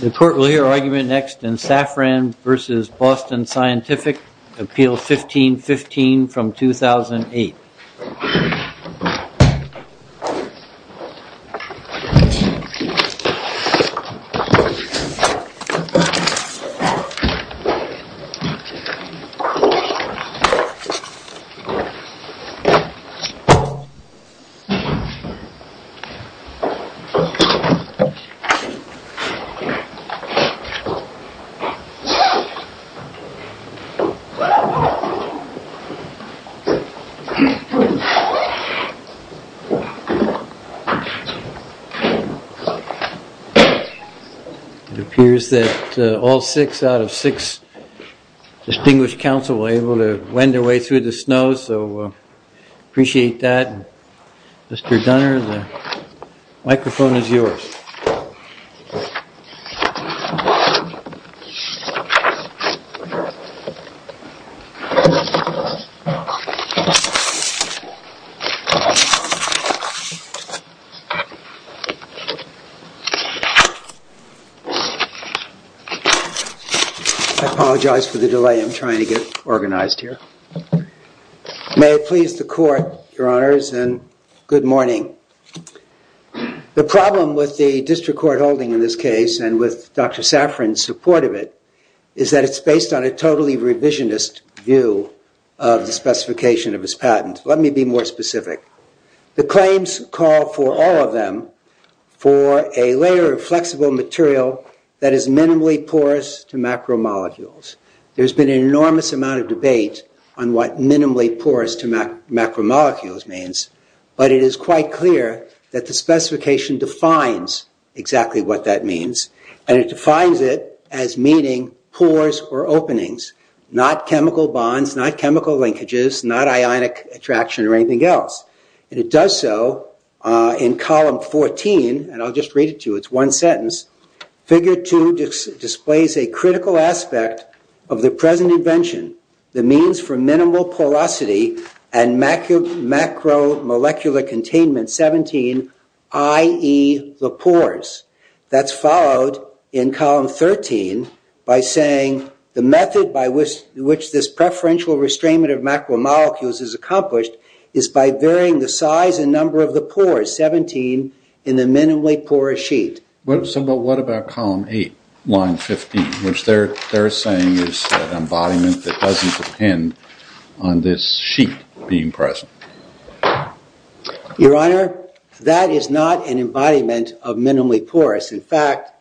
The court will hear argument next in Saffran v. Boston Scientific, Appeal 1515 from 2008. It appears that all six out of six distinguished counsel were able to wend their way through the snow, so I appreciate that. Mr. Dunner, the microphone is yours. I apologize for the delay. I'm trying to get organized here. May it please the court, your honors, and good morning. The problem with the district court holding in this case and with Dr. Saffran's support of it is that it's based on a totally revisionist view of the specification of his patent. Let me be more specific. The claims call for all of them for a layer of flexible material that is minimally porous to macromolecules. There's been an enormous amount of debate on what minimally porous to macromolecules means, but it is quite clear that the specification defines exactly what that means, and it defines it as meaning pores or openings, not chemical bonds, not chemical linkages, not ionic attraction or anything else. It does so in column 14, and I'll just read it to you. It's one sentence. Figure 2 displays a critical aspect of the present invention, the means for minimal porosity and macromolecular containment 17, i.e. the pores. That's followed in column 13 by saying the method by which this preferential restrainment of macromolecules is accomplished is by varying the size and number of the pores, 17, in the minimally porous sheet. What about column 8, line 15, which they're saying is an embodiment that doesn't depend on this sheet being present? Your honor, that is not an embodiment of minimally porous. In fact,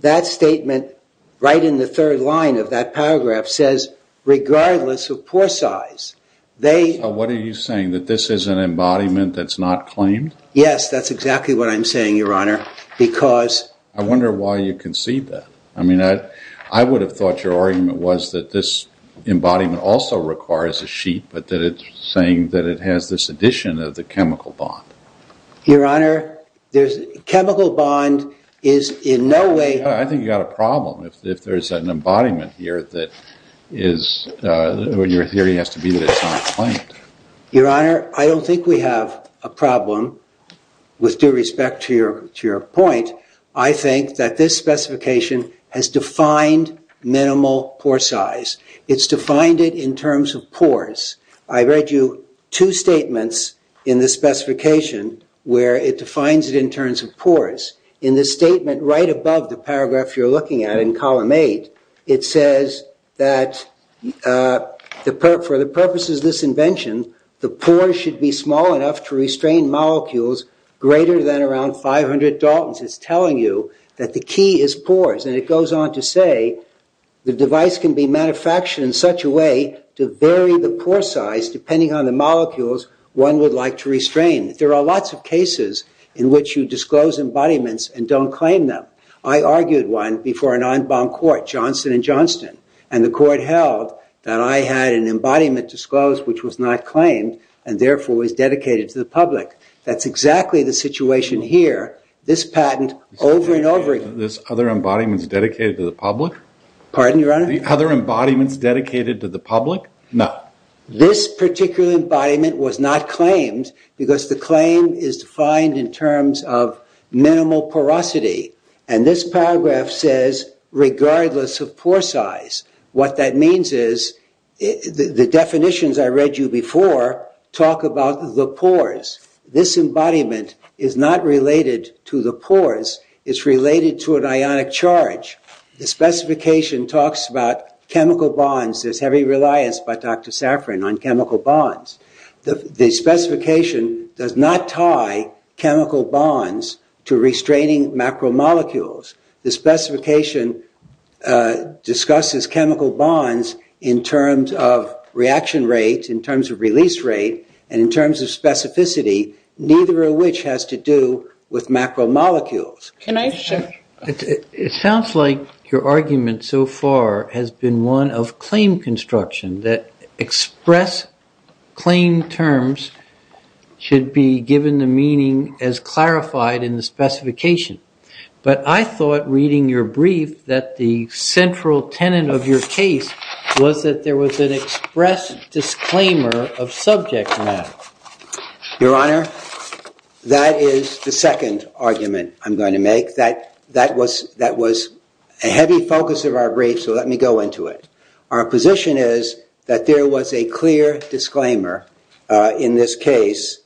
that statement right in the third line of that paragraph says, regardless of pore size, they... So what are you saying, that this is an embodiment that's not claimed? Yes, that's exactly what I'm saying, your honor, because... I wonder why you concede that. I mean, I would have thought your argument was that this embodiment also requires a sheet, but that it's saying that it has this addition of the chemical bond. Your honor, chemical bond is in no way... I think you've got a problem. If there's an embodiment here that is... Your theory has to be that it's not claimed. Your honor, I don't think we have a problem with due respect to your point. I think that this specification has defined minimal pore size. It's defined it in terms of pores. I read you two statements in the specification where it defines it in terms of pores. In the statement right above the paragraph you're looking at in the second line, it says that for the purposes of this invention, the pore should be small enough to restrain molecules greater than around 500 Daltons. It's telling you that the key is pores, and it goes on to say, the device can be manufactured in such a way to vary the pore size depending on the molecules one would like to restrain. There are lots of cases in which you disclose embodiments and don't claim them. I argued one before an en banc court, Johnson and the court held that I had an embodiment disclosed which was not claimed and therefore was dedicated to the public. That's exactly the situation here. This patent over and over again... This other embodiment is dedicated to the public? Pardon your honor? The other embodiment is dedicated to the public? No. This particular embodiment was not claimed because the claim is defined in terms of pore size. What that means is, the definitions I read you before talk about the pores. This embodiment is not related to the pores. It's related to an ionic charge. The specification talks about chemical bonds. There's heavy reliance by Dr. Safran on chemical bonds. The specification does not tie and discusses chemical bonds in terms of reaction rate, in terms of release rate, and in terms of specificity, neither of which has to do with macromolecules. It sounds like your argument so far has been one of claim construction, that express claim terms should be given the meaning as was that there was an express disclaimer of subject matter. Your honor, that is the second argument I'm going to make. That was a heavy focus of our brief, so let me go into it. Our position is that there was a clear disclaimer in this case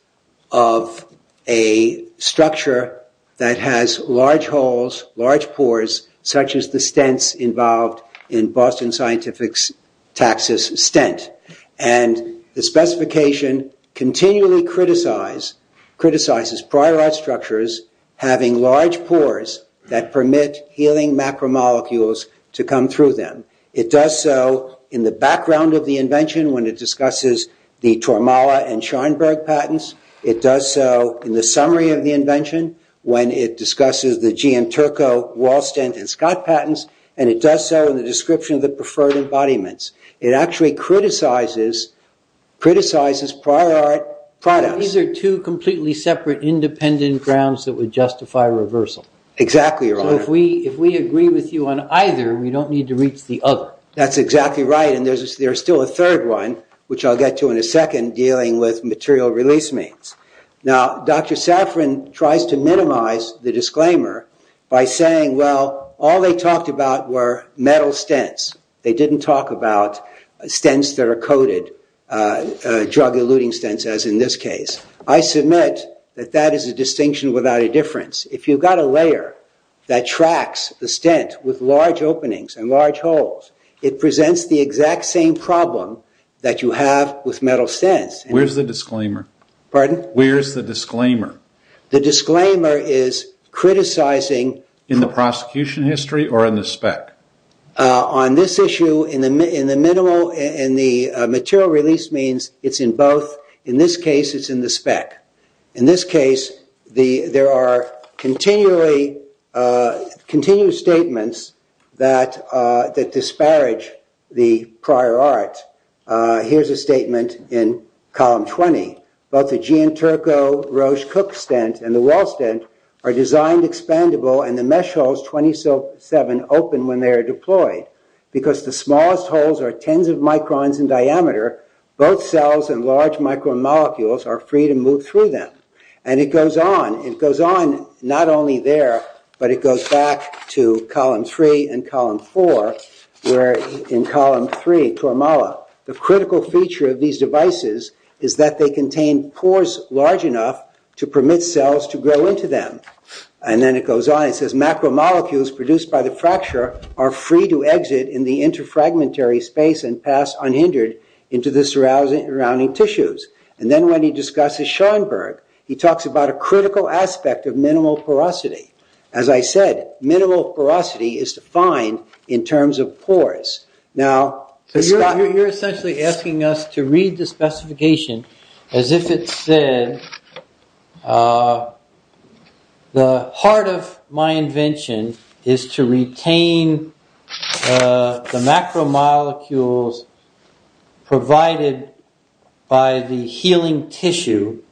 of a structure that has large holes, large pores, such as the stents involved in Boston Scientific's Taxus stent. The specification continually criticizes prior art structures having large pores that permit healing macromolecules to come through them. It does so in the background of the invention when it discusses the Tormala and Schoenberg and Scott patents, and it does so in the description of the preferred embodiments. It actually criticizes prior art products. These are two completely separate independent grounds that would justify reversal. Exactly, your honor. If we agree with you on either, we don't need to reach the other. That's exactly right, and there's still a third one, which I'll get to in a second, dealing with material release means. Now, Dr. Safran tries to minimize the disclaimer by saying, well, all they talked about were metal stents. They didn't talk about stents that are coated, drug-eluting stents, as in this case. I submit that that is a distinction without a difference. If you've got a layer that tracks the stent with large openings and large holes, it presents the disclaimer. Pardon? Where's the disclaimer? The disclaimer is criticizing- In the prosecution history or in the spec? On this issue, in the material release means it's in both. In this case, it's in the spec. In this case, there are continuous statements that disparage the column 20. Both the Gian-Turco Roche-Cook stent and the Well stent are designed expandable, and the mesh holes 27 open when they are deployed. Because the smallest holes are tens of microns in diameter, both cells and large micromolecules are free to move through them. And it goes on, it goes on not only there, but it goes back to column 3 and column 4, where in column 3, the critical feature of these devices is that they contain pores large enough to permit cells to grow into them. And then it goes on, it says macromolecules produced by the fracture are free to exit in the interfragmentary space and pass unhindered into the surrounding tissues. And then when he discusses Schoenberg, he talks about a critical aspect of minimal porosity. As I said, minimal porosity is defined in terms of pores. Now... So you're essentially asking us to read the specification as if it said, the heart of my invention is to retain the macromolecules provided by the healing tissue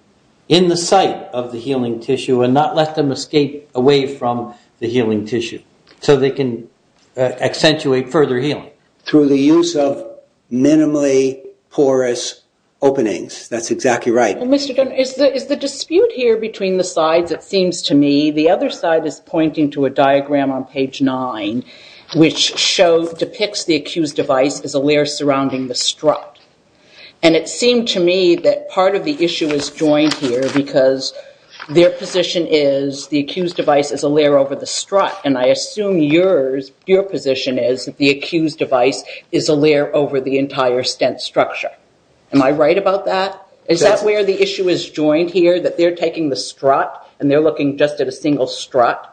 in the site of the healing tissue and not let them escape away from the healing tissue, so they can accentuate further healing. Through the use of minimally porous openings. That's exactly right. Mr. Dunn, is the dispute here between the sides, it seems to me, the other side is pointing to a diagram on page 9, which depicts the accused device as a layer surrounding the strut. And it seemed to me that part of the issue is joined here because their position is the accused device is a layer over the strut. And I assume your position is the accused device is a layer over the entire stent structure. Am I right about that? Is that where the issue is joined here, that they're taking the strut and they're looking just at a single strut?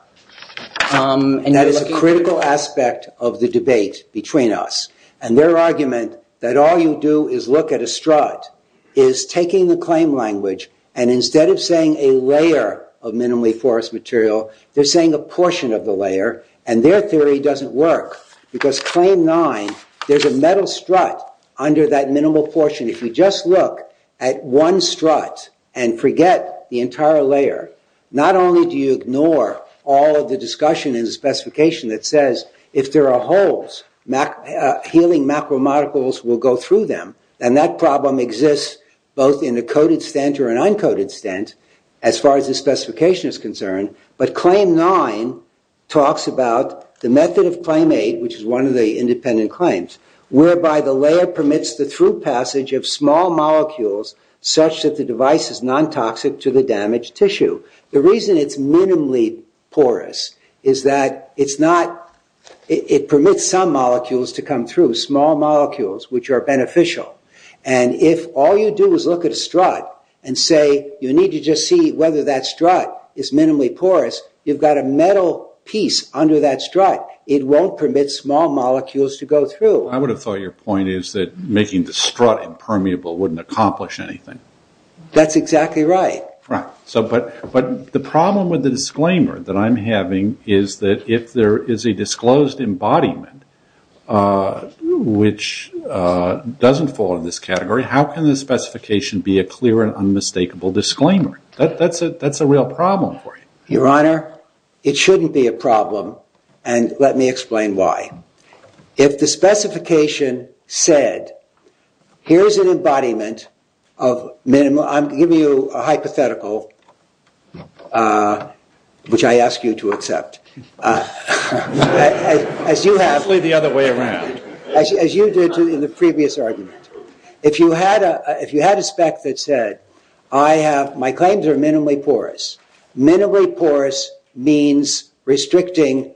And that is a critical aspect of the debate between us and their argument that all you do is look at a strut is taking the claim language and instead of saying a layer of minimally porous material, they're saying a portion of the layer and their theory doesn't work because claim 9, there's a metal strut under that minimal portion. If you just look at one strut and forget the discussion in the specification that says if there are holes, healing macromolecules will go through them. And that problem exists both in a coated stent or an uncoated stent as far as the specification is concerned. But claim 9 talks about the method of claim 8, which is one of the independent claims, whereby the layer permits the through passage of small molecules such that the device is non-toxic to the damaged tissue. The reason it's minimally porous is that it's not, it permits some molecules to come through, small molecules, which are beneficial. And if all you do is look at a strut and say, you need to just see whether that strut is minimally porous, you've got a metal piece under that strut. It won't permit small molecules to go through. I would have thought your point is that making the strut impermeable wouldn't accomplish anything. That's exactly right. But the problem with the disclaimer that I'm having is that if there is a disclosed embodiment which doesn't fall into this category, how can the specification be a clear and unmistakable disclaimer? That's a real problem for you. Your Honor, it shouldn't be a problem and let me explain why. If the there is an embodiment of minimal, I'm giving you a hypothetical, which I ask you to accept. As you have, as you did in the previous argument, if you had a spec that said, I have, my claims are minimally porous. Minimally porous means restricting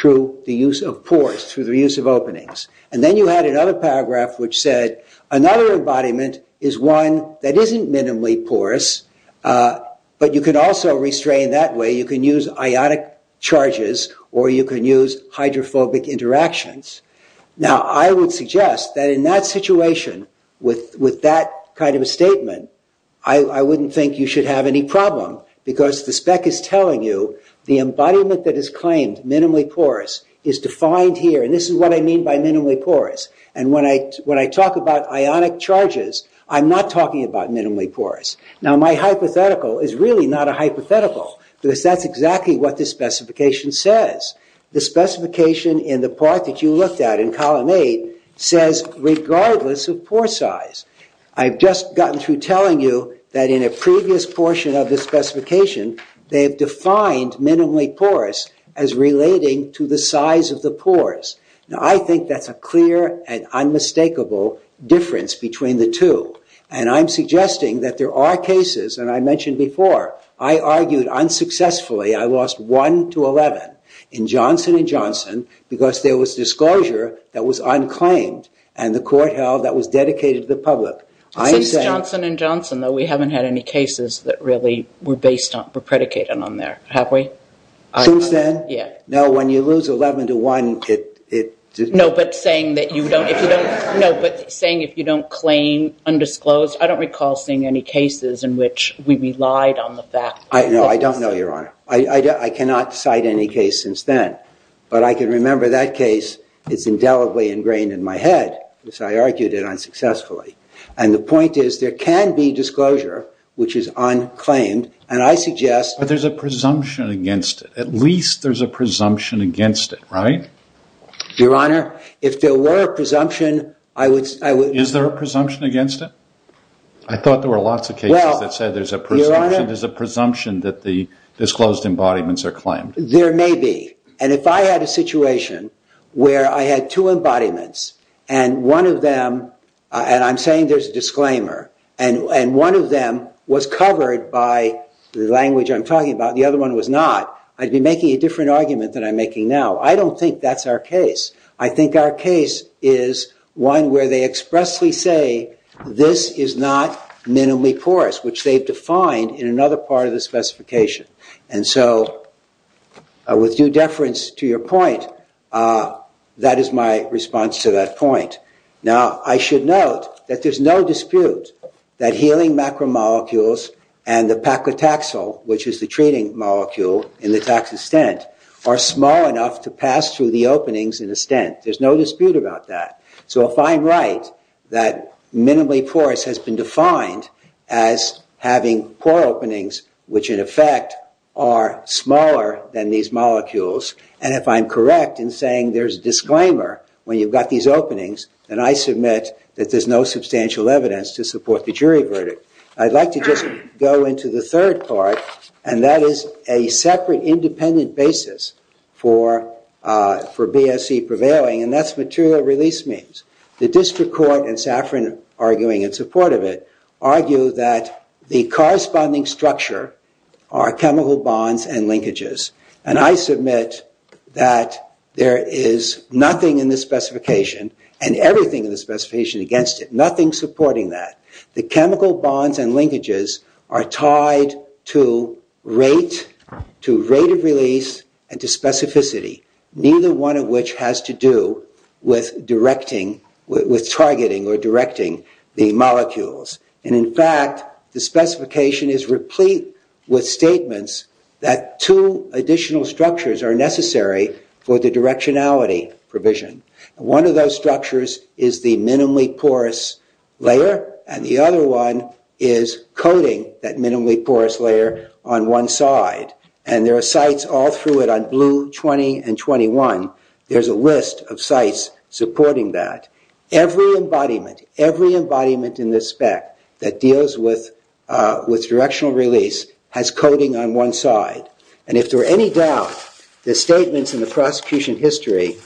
through the use of pores, through the use of openings. And then you had another paragraph which said, another embodiment is one that isn't minimally porous, but you can also restrain that way. You can use ionic charges or you can use hydrophobic interactions. Now, I would suggest that in that situation, with that kind of a statement, I wouldn't think you should have any problem because the spec is telling you the embodiment that is claimed minimally porous is defined here. And this is what I mean by minimally porous. And when I talk about ionic charges, I'm not talking about minimally porous. Now, my hypothetical is really not a hypothetical because that's exactly what this specification says. The specification in the part that you looked at in column eight says, regardless of pore size. I've just gotten through telling you that in a previous portion of the specification, they have defined minimally porous as relating to the size of the pores. Now, I think that's a clear and unmistakable difference between the two. And I'm suggesting that there are cases, and I mentioned before, I argued unsuccessfully, I lost one to 11 in Johnson and Johnson because there was disclosure that was unclaimed and the court held that was dedicated to the public. Since Johnson and Johnson though, we haven't had any cases that really were predicated on there, have we? Since then? Yeah. No, when you lose 11 to 1, it didn't. No, but saying that you don't claim undisclosed, I don't recall seeing any cases in which we relied on the fact. No, I don't know, Your Honor. I cannot cite any case since then. But I can remember that case. It's indelibly ingrained in my head because I argued it unsuccessfully. And the point is there can be disclosure, which is unclaimed. And I suggest. But there's a presumption against it. At least there's a presumption against it, right? Your Honor, if there were a presumption, I would. Is there a presumption against it? I thought there were lots of cases that said there's a presumption. There's a presumption that the disclosed embodiments are claimed. There may be. And if I had a situation where I had two embodiments and one of them, and I'm saying there's a disclaimer, and one of them was covered by the language I'm talking about and the other one was not, I'd be making a different argument than I'm making now. I don't think that's our case. I think our case is one where they expressly say this is not minimally porous, which they've defined in another part of the specification. And so with due deference to your point, that is my response to that point. Now, I should note that there's no dispute that healing macromolecules and the paclitaxel, which is the treating molecule in the taxistent, are small enough to pass through the openings in a stent. There's no dispute about that. So if I'm right that minimally porous has been defined as having pore openings, which in effect are smaller than these molecules, and if I'm correct in saying there's a disclaimer when you've got these openings, then I submit that there's no substantial evidence to support the jury verdict. I'd like to just go into the third part, and that is a separate independent basis for BSE prevailing, and that's material release means. The district court and Safran arguing in support of it argue that the corresponding structure are chemical bonds and linkages, and I submit that there is nothing in the specification and everything in the specification against it, nothing supporting that. The chemical bonds and linkages are tied to rate of release and to specificity, neither one of which has to do with directing, with targeting or directing the molecules. And in fact, the specification is replete with statements that two additional structures are necessary for the directionality provision. One of those structures is the minimally porous layer, and the other one is coating that minimally porous layer on one side, and there are sites all through it on blue 20 and 21. There's a list of sites supporting that. Every embodiment, every embodiment in this spec that deals with directional release has coating on one side, and if there are any doubts, the statements in the prosecution history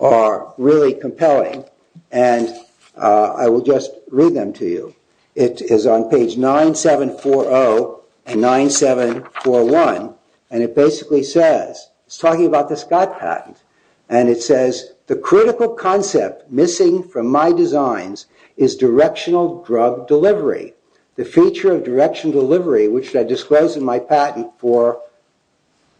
are really compelling, and I will just read them to you. It is on page 9740 and 9741, and it basically says, it's talking about the Scott patent, and it says, the critical concept missing from my designs is directional drug delivery. The feature of direction delivery, which I disclosed in my patent for,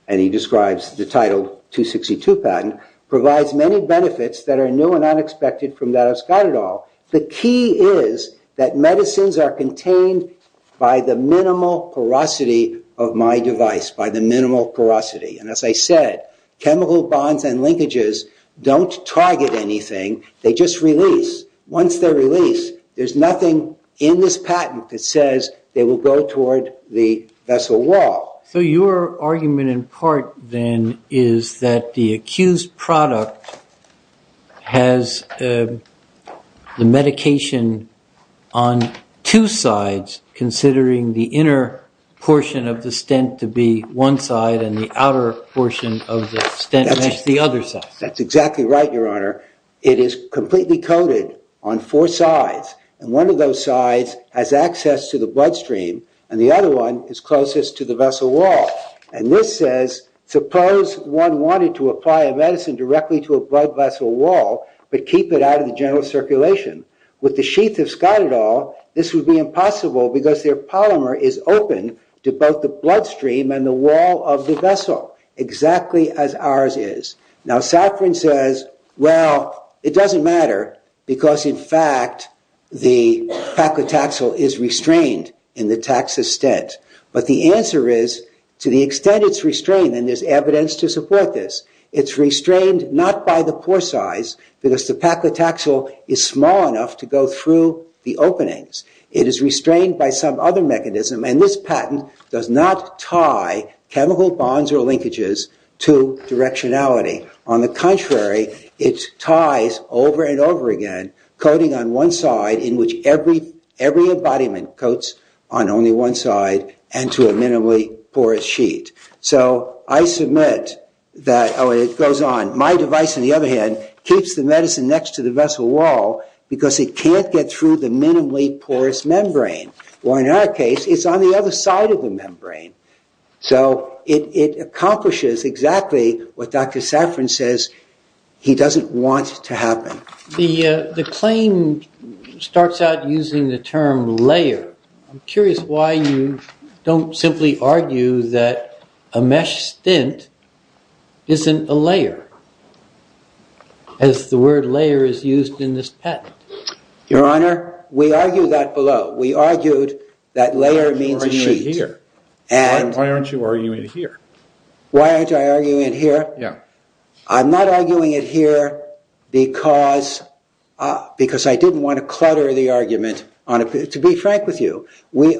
and he describes the title 262 patent, provides many benefits that are new and unexpected from that of Scott et al. The key is that medicines are contained by the minimal porosity of my device, by the minimal porosity, and as I said, chemical bonds and linkages don't target anything. They just release. Once they're released, there's nothing in this patent that says they will go toward the vessel wall. So your argument in part then is that the accused product has the medication on two sides, considering the inner portion of the stent to be one side, and the outer portion of the stent is the other side. That's exactly right, your honor. It is completely coated on four sides, and one of those sides has access to the blood stream, and the other one is closest to the vessel wall, and this says, suppose one wanted to apply a medicine directly to a blood vessel wall, but keep it out of the general circulation. With the sheath of Scott et al, this would be impossible, because their polymer is open to both the blood stream and the wall of the vessel, exactly as ours is. Now, Safran says, well, it doesn't matter, because in fact the paclitaxel is restrained in the taxa stent, but the answer is, to the extent it's restrained, and there's evidence to support this, it's restrained not by the pore size, because the openings. It is restrained by some other mechanism, and this patent does not tie chemical bonds or linkages to directionality. On the contrary, it ties over and over again, coating on one side, in which every embodiment coats on only one side, and to a minimally porous sheet. So I submit that it goes on. My device, on the other hand, keeps the medicine next to the vessel wall, because it can't get through the minimally porous membrane, or in our case, it's on the other side of the membrane. So it accomplishes exactly what Dr. Safran says he doesn't want to happen. The claim starts out using the term layer. I'm curious why you don't simply argue that a mesh is used in this patent. Your Honor, we argue that below. We argued that layer means a sheet. Why aren't you arguing it here? Why aren't I arguing it here? Yeah. I'm not arguing it here because I didn't want to clutter the argument. To be frank with you, we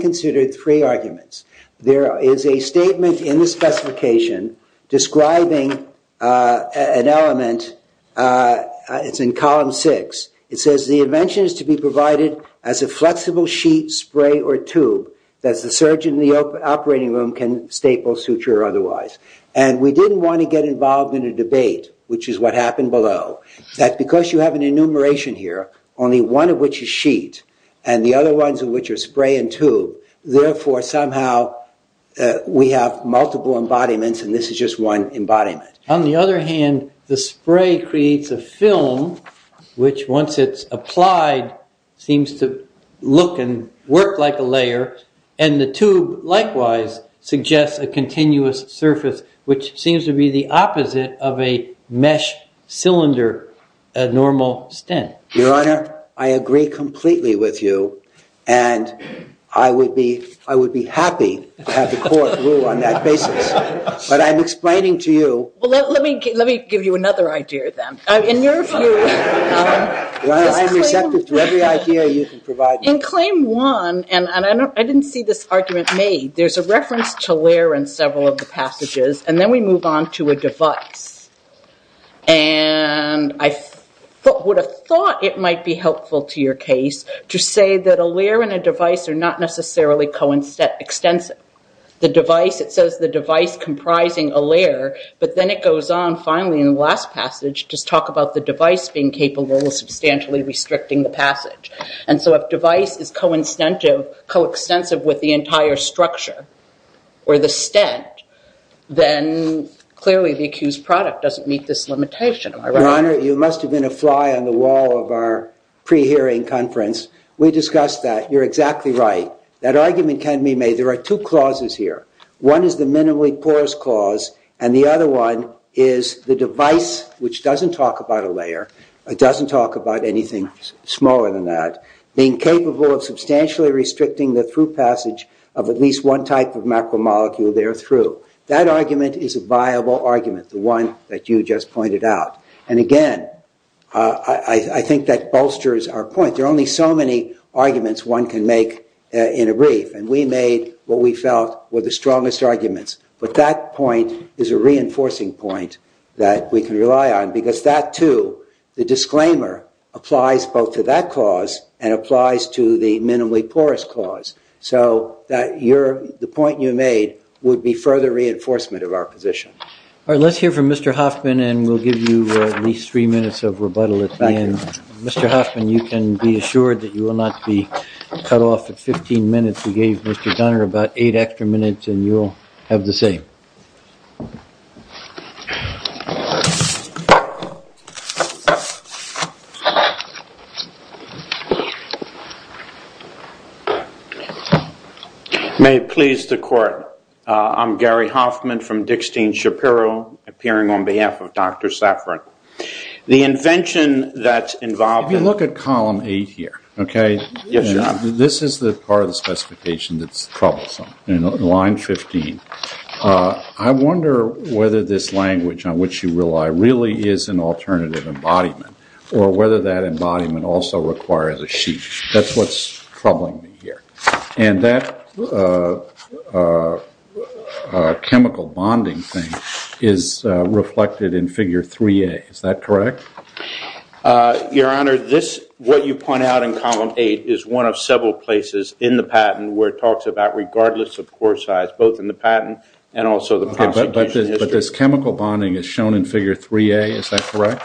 considered three arguments. There is a statement in the specification describing an element. It's in column six. It says the invention is to be provided as a flexible sheet, spray, or tube that the surgeon in the operating room can staple, suture, or otherwise. And we didn't want to get involved in a debate, which is what happened below, that because you have an enumeration here, only one of which is sheet, and the other ones of which are spray and tube, therefore, somehow, we have multiple embodiments, and this is just one embodiment. On the other hand, the spray creates a film, which once it's applied, seems to look and work like a layer. And the tube, likewise, suggests a continuous surface, which seems to be the opposite of a mesh cylinder, a normal stent. Your Honor, I agree completely with you, and I would be happy to have the court rule on that basis. But I'm explaining to you. Well, let me give you another idea then. I'm receptive to every idea you can provide. In claim one, and I didn't see this argument made, there's a reference to layer in several of the passages, and then we move on to a device. And I would have thought it might be helpful to your case to say that a layer and a device are not necessarily coextensive. The device, it says the device comprising a layer, but then it goes on finally in the last passage to talk about the device being capable of substantially restricting the passage. And so if device is coextensive with the entire structure or the stent, then clearly the accused product doesn't meet this limitation. Your Honor, you must have been a fly on the wall of our pre-hearing conference. We discussed that. You're exactly right. That argument can be made. There are two clauses here. One is the minimally porous clause, and the other one is the device, which doesn't talk about a layer, it doesn't talk about anything smaller than that, being capable of substantially restricting the through passage of at least one macromolecule there through. That argument is a viable argument, the one that you just pointed out. And again, I think that bolsters our point. There are only so many arguments one can make in a brief, and we made what we felt were the strongest arguments. But that point is a reinforcing point that we can rely on, because that too, the disclaimer, applies both to that and applies to the minimally porous clause. So the point you made would be further reinforcement of our position. All right, let's hear from Mr. Hoffman, and we'll give you at least three minutes of rebuttal at the end. Mr. Hoffman, you can be assured that you will not be cut off at 15 minutes. We gave Mr. Gunner about eight extra minutes, and you'll have the same. May it please the court, I'm Gary Hoffman from Dickstein Shapiro, appearing on behalf of Dr. Troublesome. In line 15, I wonder whether this language on which you rely really is an alternative embodiment, or whether that embodiment also requires a sheet. That's what's troubling me here. And that chemical bonding thing is reflected in figure 3a, is that correct? Your Honor, what you point out in column 8 is one of several places in the patent where it talks about regardless of pore size, both in the patent and also the prosecution history. But this chemical bonding is shown in figure 3a, is that correct?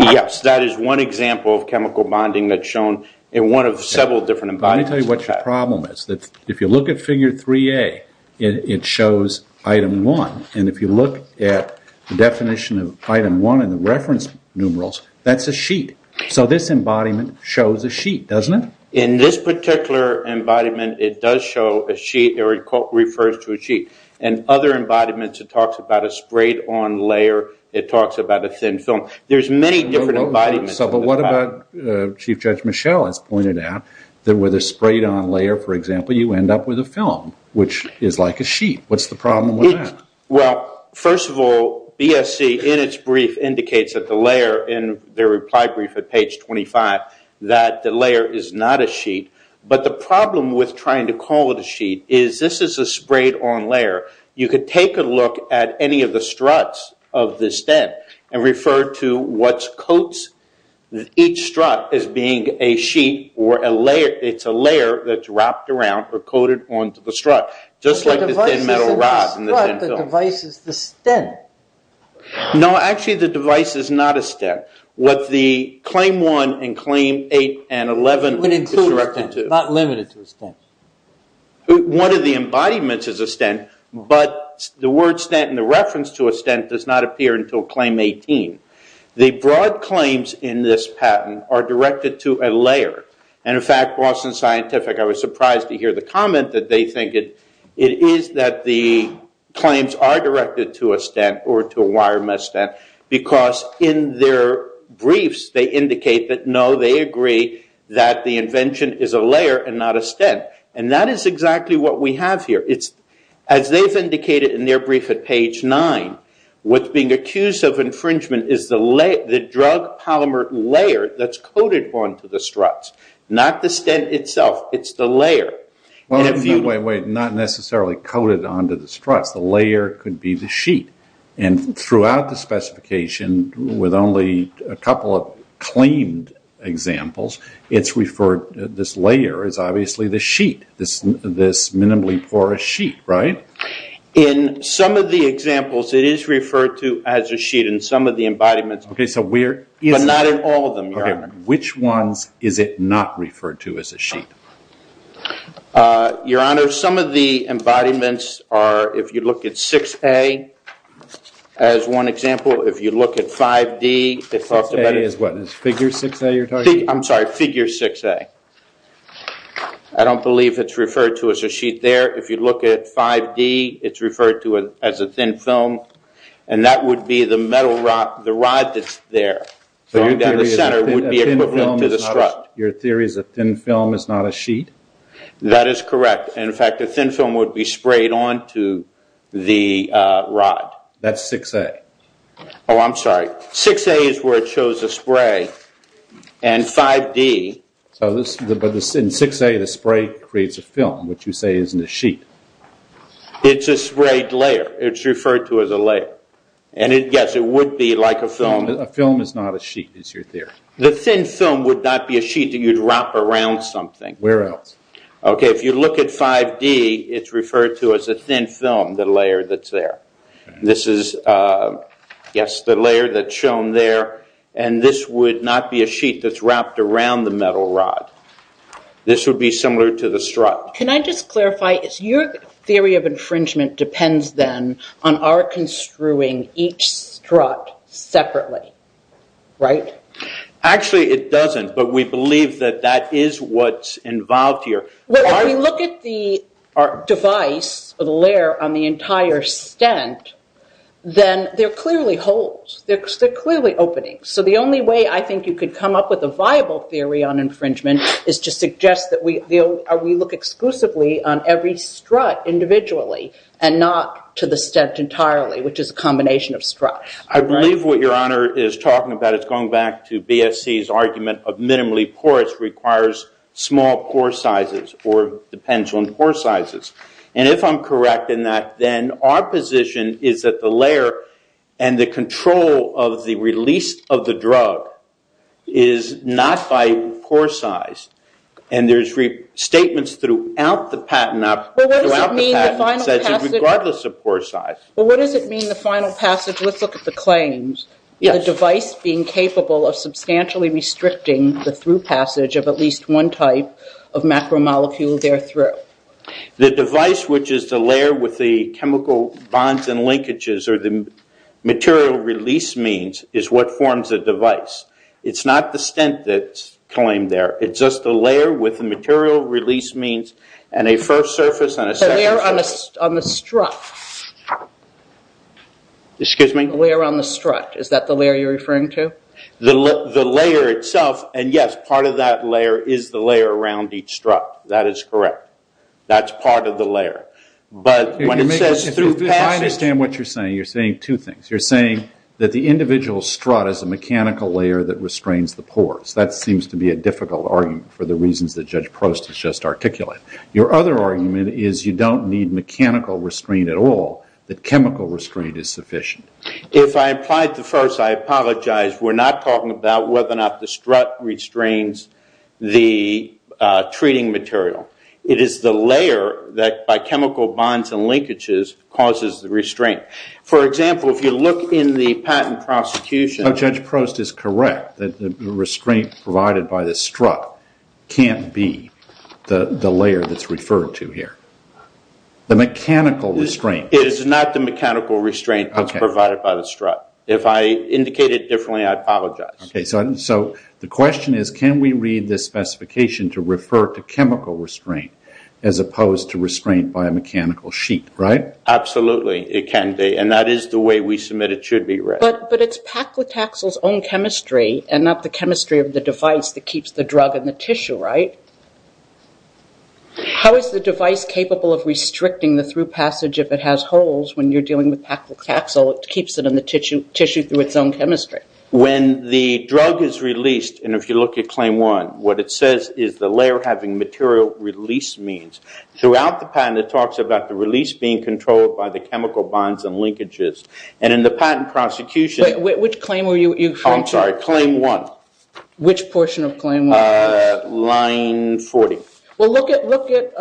Yes, that is one example of chemical bonding that's shown in one of several different embodiments. Let me tell you what your problem is. If you look at figure 3a, it shows item 1, and if you look at the definition of item 1 in the reference numerals, that's a sheet. So this embodiment shows a sheet, doesn't it? In this particular embodiment, it does show a sheet, or it refers to a sheet. In other embodiments, it talks about a sprayed on layer, it talks about a thin film. There's many different embodiments. But what about Chief Judge Michel has pointed out that with a sprayed on layer, for example, you end up with which is like a sheet. What's the problem with that? Well, first of all, BSC in its brief indicates that the layer in their reply brief at page 25, that the layer is not a sheet. But the problem with trying to call it a sheet is this is a sprayed on layer. You could take a look at any of the struts of this den and refer to what's as being a sheet or a layer. It's a layer that's wrapped around or coated onto the strut, just like the thin metal rod and the thin film. The device is the stent. No, actually the device is not a stent. What the claim 1 and claim 8 and 11 would include a stent, not limited to a stent. One of the embodiments is a stent, but the word stent and the reference to a stent does not patent are directed to a layer. In fact, Boston Scientific, I was surprised to hear the comment that they think it is that the claims are directed to a stent or to a wire mesh stent because in their briefs they indicate that no, they agree that the invention is a layer and not a stent. That is exactly what we have here. As they've indicated in their brief at page 9, what's being accused of infringement is the drug polymer layer that's coated onto the struts, not the stent itself, it's the layer. Wait, wait, wait, not necessarily coated onto the struts, the layer could be the sheet. Throughout the specification with only a couple of claimed examples, it's referred, this layer is obviously the sheet, this minimally porous sheet, right? In some of the examples, it is referred to as a sheet in some of the embodiments, but not in all of them, Your Honor. Which ones is it not referred to as a sheet? Your Honor, some of the embodiments are, if you look at 6A as one example, if you look at 5D, I'm sorry, figure 6A. I don't believe it's referred to as a sheet there. If you look at 5D, it's referred to as a thin film, and that would be the rod that's there. Your theory is a thin film is not a sheet? That is correct. In fact, a thin film would be sprayed onto the rod. That's 6A. Oh, I'm sorry. 6A is where it shows the spray, and 5D. But in 6A, the spray creates a film, which you say isn't a sheet. It's a sprayed layer. It's referred to as a layer. Yes, it would be like a film. A film is not a sheet, is your theory? The thin film would not be a sheet. You'd wrap around something. Where else? If you look at 5D, it's referred to as a thin film, the layer that's there. This is, yes, the layer that's shown there, and this would not be a sheet that's wrapped around the metal rod. This would be similar to the strut. Can I just clarify? Your theory of infringement depends, then, on our construing each strut separately, right? Actually, it doesn't, but we believe that that is what's involved here. Well, if you look at the device or the layer on the entire stent, then they're clearly holes. They're clearly openings. So the only way I think you could come up with a viable theory on infringement is to suggest that we look exclusively on every strut individually, and not to the stent entirely, which is a combination of struts. I believe what your honor is talking about is going back to BSC's argument of minimally porous requires small pore sizes, or depends on pore sizes. And if I'm correct in that, then our position is that the layer and the control of the release of the drug is not by pore size. And there's statements throughout the patent, regardless of pore size. But what does it mean, the final passage? Let's look at the claims. The device being capable of substantially restricting the through passage of at least one type of macromolecule there through. The device, which is the layer with the chemical bonds and linkages, or the material release means, is what forms a device. It's not the stent that's claimed there. It's just the layer with the material release means, and a first surface and a second surface. The layer on the strut. Excuse me? The layer on the strut. Is that the layer you're referring to? The layer itself, and yes, part of that layer is the layer around each strut. That is correct. That's part of the layer. But when it says through passage... I understand what you're saying. You're saying two things. You're saying that the individual strut is a mechanical layer that restrains the pores. That seems to be a difficult argument for the reasons that Judge Prost has just articulated. Your other argument is you don't need mechanical restraint at all. The chemical restraint is sufficient. If I applied the first, I apologize. We're not talking about whether or not the strut restrains the treating material. It is the layer that, by chemical bonds and linkages, causes the restraint. For example, if you look in the patent prosecution... Judge Prost is correct that the restraint provided by the strut can't be the layer that's referred to here. The mechanical restraint... It is not the mechanical restraint that's provided by the strut. If I indicate it differently, I apologize. Okay. So the question is, can we read this specification to refer to chemical restraint as opposed to restraint by a mechanical sheet, right? Absolutely. It can be. And that is the way we submit it should be read. But it's Paclitaxel's own chemistry and not the chemistry of the device that keeps the drug in the tissue, right? How is the device capable of restricting the through passage if it has holes when you're dealing with Paclitaxel, it keeps it in the tissue through its own chemistry? When the drug is released, and if you look at claim one, what it says is the layer having material release means. Throughout the patent, it talks about the release being controlled by the chemical bonds and linkages. And in the patent prosecution... Which claim were you referring to? I'm sorry. Claim one. Which portion of claim one? Line 40. Well, look at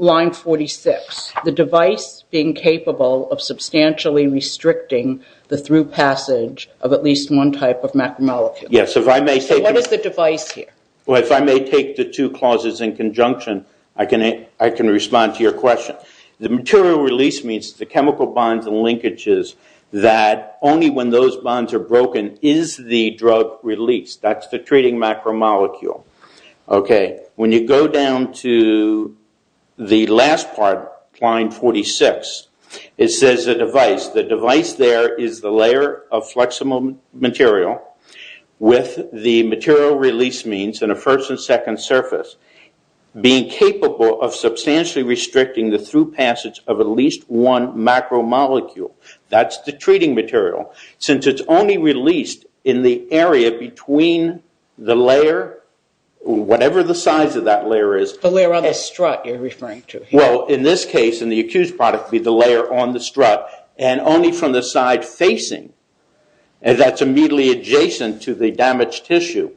line 46. The device being capable of substantially restricting the through passage of at least one type of macromolecule. Yes, if I may say... What is the device here? Well, if I may take the two clauses in conjunction, I can respond to your question. The material release means the chemical bonds and linkages that only when those bonds are broken is the drug released. That's the treating macromolecule. Okay. When you go down to the last part, line 46, it says the device. The device there is the layer of flexible material with the material release means in a first and second surface being capable of substantially restricting the through passage of at least one macromolecule. That's the treating material. Since it's only released in the area between the layer, whatever the size of that layer is... The layer on the strut you're referring to. Well, in this case, in the accused product, be the layer on the strut and only from the side facing, and that's immediately adjacent to the damaged tissue,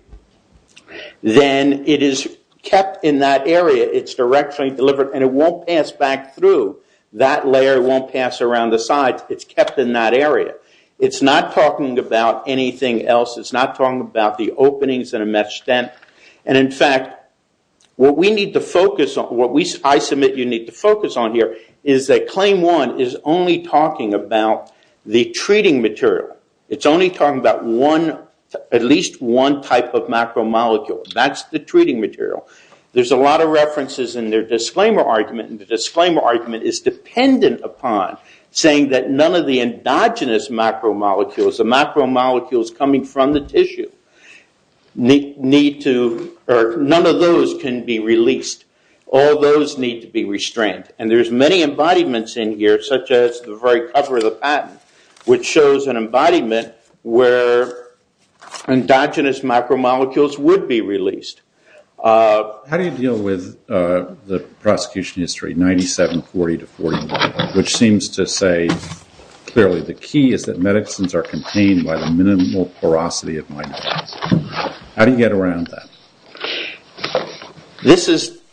then it is kept in that area. It's directionally delivered and it won't pass back through. That layer won't pass around the sides. It's kept in that area. It's not talking about anything else. It's not talking about the openings in a mesh dent. And in fact, what I submit you need to focus on here is that claim one is only talking about the treating material. It's only talking about at least one type of macromolecule. That's the treating material. There's a lot of references in their disclaimer argument, and the disclaimer argument is dependent upon saying that none of the endogenous macromolecules, the macromolecules coming from the tissue, none of those can be released. All those need to be restrained. And there's many embodiments in here, such as the very cover of the patent, which shows an embodiment where endogenous macromolecules would be released. How do you deal with the prosecution history, 9740 to 41, which seems to say, clearly, the key is that medicines are contained by the minimal porosity of minorities. How do you get around that?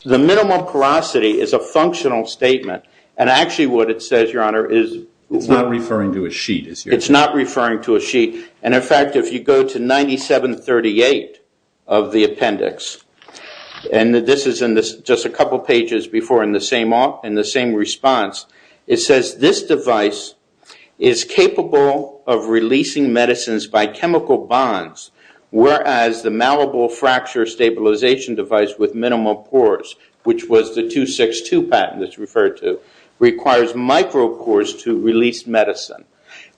The minimal porosity is a functional statement, and actually what it says, Your Honor, is... It's not referring to a sheet. It's not referring to a sheet. And in fact, if you go to 9738 of the appendix, and this is in just a couple pages before in the same response, it says this device is capable of releasing medicines by chemical bonds, whereas the malleable fracture stabilization device with minimal pores, which was the 262 patent that's referred to, requires micropores to release medicine.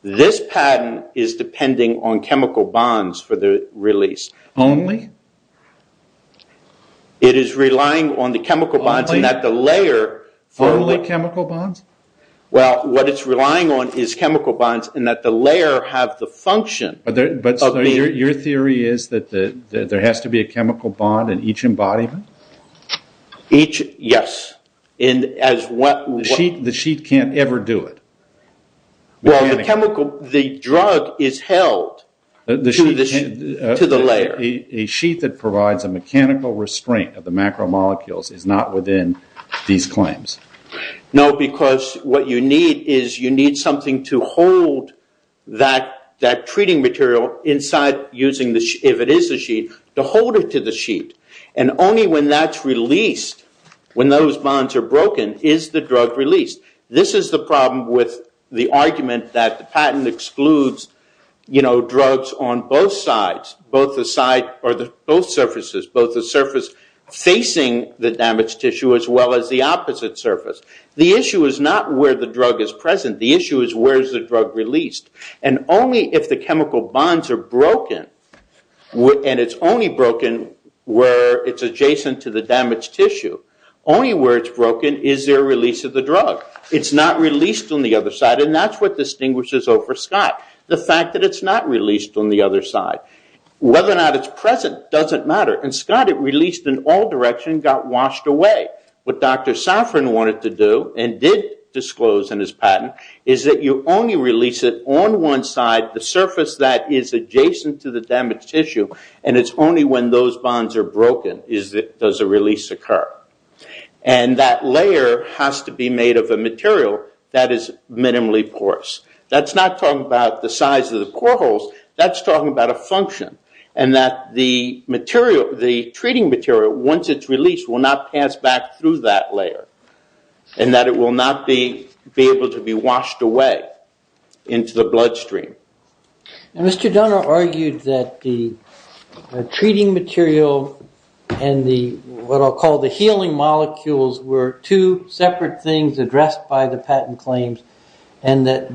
This patent is depending on chemical bonds for the release. Only? It is relying on the chemical bonds and that the layer... Only chemical bonds? Well, what it's relying on is chemical bonds and that the layer have the function... Your theory is that there has to be a chemical bond in each embodiment? Each, yes. The sheet can't ever do it? Well, the drug is held to the layer. A sheet that provides a mechanical restraint of the macromolecules is not within these claims? No, because what you need is you need something to hold that treating material inside using the... If it is a sheet, to hold it to the sheet. And only when that's released, when those bonds are broken, is the drug released. This is the problem with the argument that the patent excludes drugs on both sides, both the side or both surfaces, both the surface facing the damaged tissue as well as the opposite surface. The issue is not where the drug is present. The issue is where is the drug released. And only if the chemical bonds are broken and it's only broken where it's adjacent to the damaged tissue, only where it's broken is there release of the drug. It's not released on the other side and that's what distinguishes O for Scott. The fact that it's not released on the other side. Whether or not it's present doesn't matter. And Scott, it released in all directions, got washed away. What Dr. Safran wanted to do and did disclose in his patent is that you only release it on one side, the surface that is adjacent to the damaged tissue and it's only when those bonds are broken does a release occur. And that layer has to be made of a material that is minimally porous. That's not talking about the size of the pore holes. That's talking about a function and that the material, the treating material, once it's released, will not pass back through that layer and that it will not be able to be washed away into the bloodstream. And Mr. Donner argued that the treating material and what I'll call the healing molecules were two separate things addressed by the patent claims and that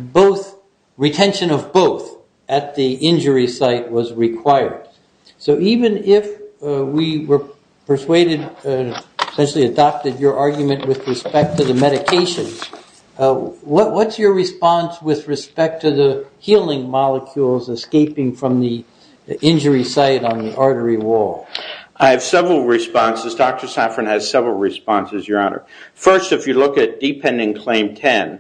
retention of both at the injury site was required. So even if we were persuaded and essentially adopted your argument with respect to the medication, what's your response with respect to the healing molecules escaping from the injury site on the artery wall? I have several responses. Dr. Safran has several responses, Your Honor. First, if you look at Dependent Claim 10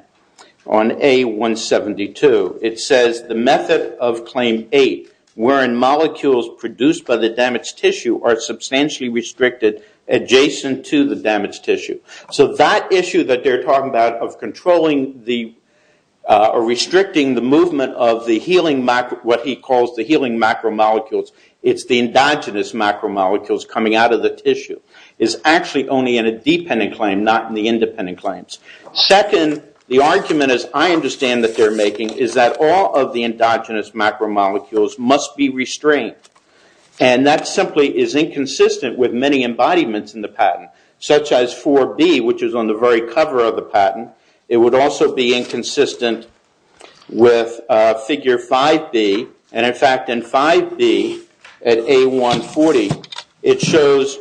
on A172, it says the method of Claim 8, wherein molecules produced by the damaged tissue are substantially restricted adjacent to the damaged tissue. So that issue that they're talking about of controlling or restricting the movement of what he calls the healing macromolecules, it's the endogenous macromolecules coming out of the tissue, is actually only in a dependent claim, not in the independent claims. Second, the argument as I understand that they're making is that all of the endogenous macromolecules must be restrained. And that simply is inconsistent with many embodiments in the patent, such as 4B, which is on the very cover of the patent. It would also be inconsistent with Figure 5B. And in fact, in 5B at A140, it shows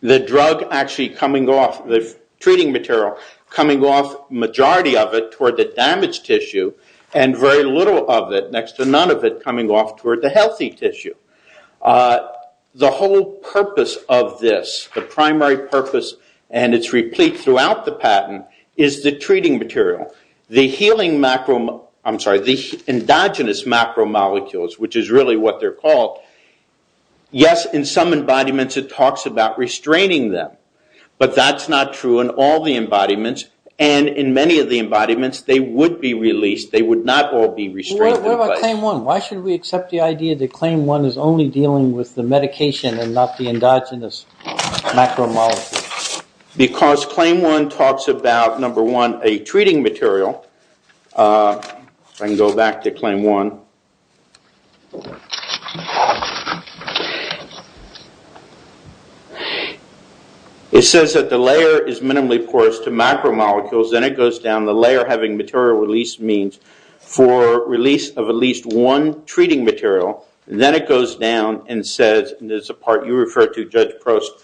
the drug actually coming off, the treating material, coming off majority of it toward the damaged tissue, and very little of it, next to none of it, coming off toward the healthy tissue. The whole purpose of this, the primary purpose, and it's replete throughout the patent, is the treating material. The healing macromolecules, I'm sorry, the endogenous macromolecules, which is really what they're called, yes, in some embodiments it talks about restraining them. But that's not true in all the embodiments, and in many of the embodiments, they would be released, they would not all be restrained. What about Claim 1? Why should we accept the idea that Claim 1 is only dealing with the medication and not the endogenous macromolecules? Because Claim 1 talks about, number one, a treating material. If I can go back to Claim 1. It says that the layer is minimally porous to macromolecules, then it goes down, the layer having material release means for release of at least one treating material, then it goes down and says, and there's a part you refer to, Judge Prost,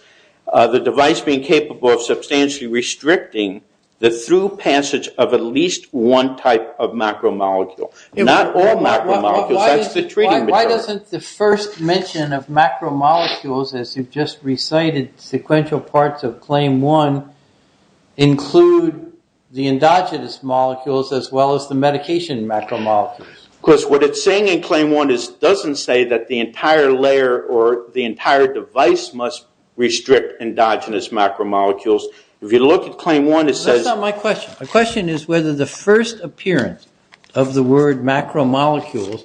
the device being capable of substantially restricting the through passage of at least one type of macromolecule. Not all macromolecules, that's the treating material. Why doesn't the first mention of macromolecules, as you've just recited, sequential parts of Claim 1, include the endogenous molecules as well as the medication macromolecules? Of course, what it's saying in Claim 1 doesn't say that the entire layer or the entire device must restrict endogenous macromolecules. If you look at Claim 1, it says... That's not my question. My question is whether the first appearance of the word macromolecules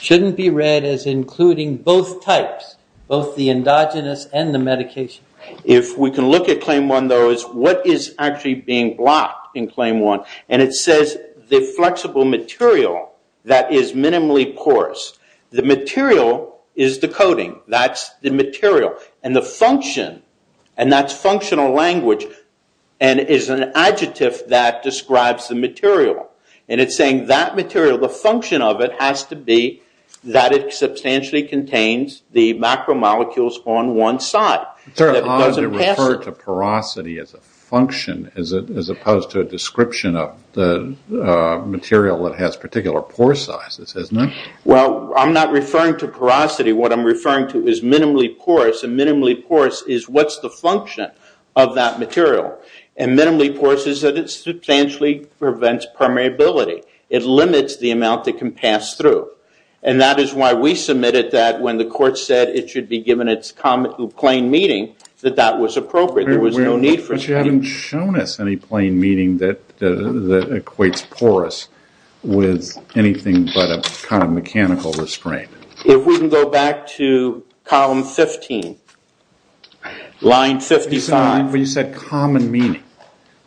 shouldn't be read as including both types, both the endogenous and the medication. If we can look at Claim 1, though, what is actually being blocked in Claim 1? It says the flexible material that is minimally porous. The material is the coating. That's the material. And the function, and that's functional language and is an adjective that describes the material. And it's saying that material, the function of it has to be that it substantially contains the macromolecules on one side. It's very hard to refer to porosity as a function as opposed to a description of the material that has particular pore sizes, isn't it? Well, I'm not referring to porosity. What I'm referring to is minimally porous. And minimally porous is what's the function of that material. And minimally porous is that it substantially prevents permeability. It limits the amount that can pass through. And that is why we submitted that when the court said it should be given its plain meaning that that was appropriate. But you haven't shown us any plain meaning that equates porous with anything but a kind of mechanical restraint. If we can go back to column 15, line 55. But you said common meaning.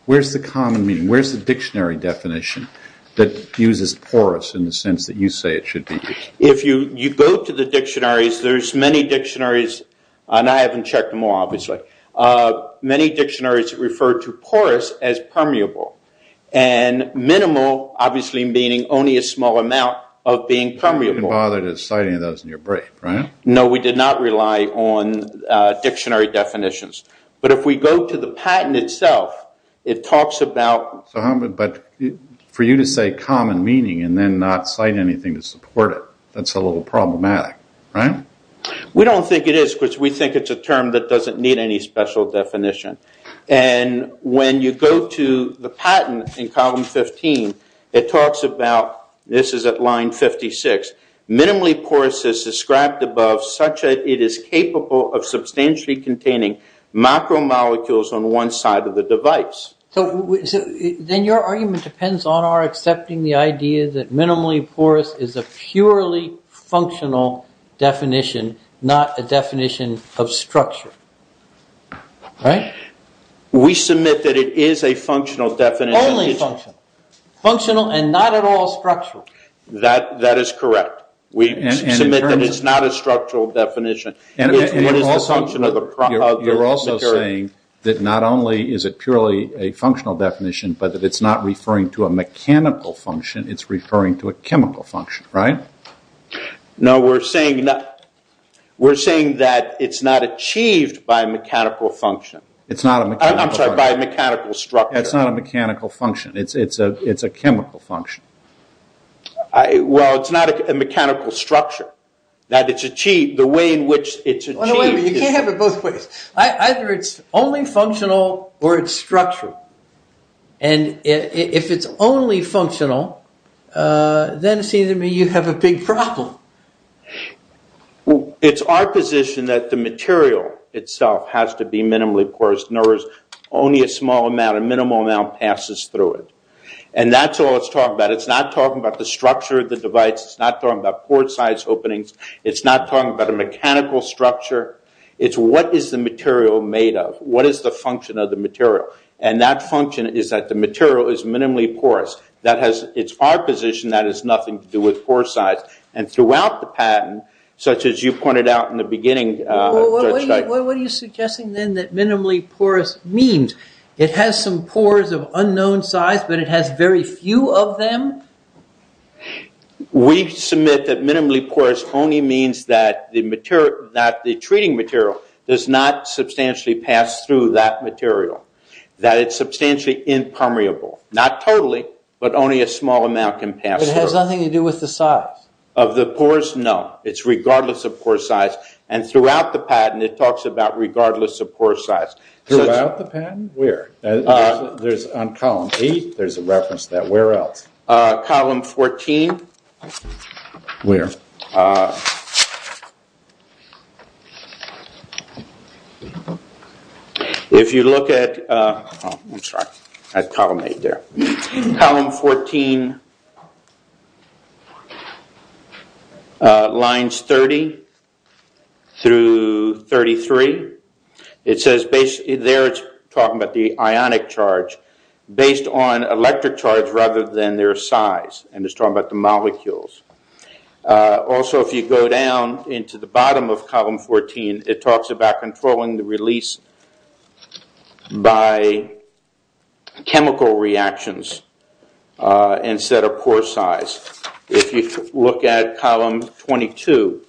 Where's the common meaning? Where's the dictionary definition that uses porous in the sense that you say it should be? If you go to the dictionaries, there's many dictionaries and I haven't checked them all, obviously. Many dictionaries refer to porous as permeable. And minimal, obviously, meaning only a small amount of being permeable. You didn't bother to cite any of those in your brief, right? No, we did not rely on dictionary definitions. But if we go to the patent itself, it talks about... But for you to say common meaning and then not cite anything to support it, that's a little problematic, right? We don't think it is because we think it's a term that doesn't need any special definition. And when you go to the patent in column 15, it talks about... This is at line 56. Minimally porous is described above such that it is capable of substantially containing macromolecules on one side of the device. Then your argument depends on our accepting the idea that minimally porous is a purely functional definition, not a definition of structure, right? We submit that it is a functional definition. Only functional. Functional and not at all structural. That is correct. We submit that it's not a structural definition. You're also saying that not only is it purely a functional definition, but that it's not referring to a mechanical function, it's referring to a chemical function, right? No, we're saying... We're saying that it's not achieved by a mechanical function. It's not a mechanical function. I'm sorry, by a mechanical structure. It's not a mechanical function. It's a chemical function. Well, it's not a mechanical structure. That it's achieved, the way in which it's achieved... You can't have it both ways. Either it's only functional or it's structural. And if it's only functional, then it seems to me you have a big problem. It's our position that the material itself has to be minimally porous. In other words, only a small amount, a minimal amount, passes through it. And that's all it's talking about. It's not talking about the structure of the device. It's not talking about port-sized openings. It's not talking about a mechanical structure. It's what is the material made of? What is the function of the material? And that function is that the material is minimally porous. That has... It's our position that it has nothing to do with port size. And throughout the patent, such as you pointed out in the beginning... What are you suggesting then that minimally porous means? It has some pores of unknown size, but it has very few of them? We submit that minimally porous only means that the material... that the treating material does not substantially pass through that material. That it's substantially impermeable. Not totally, but only a small amount can pass through. It has nothing to do with the size? Of the pores? No. It's regardless of pore size. And throughout the patent, it talks about regardless of pore size. Throughout the patent? Where? There's on column 8, there's a reference to that. Where else? Column 14. Where? If you look at... I'm sorry. I had column 8 there. Column 14 lines 30 through 33. It says basically there, it's talking about the ionic charge based on electric charge rather than their size. And it's talking about the molecules. Also, if you go down into the bottom of column 14, it talks about controlling the release by chemical reactions instead of pore size. If you look at column 22,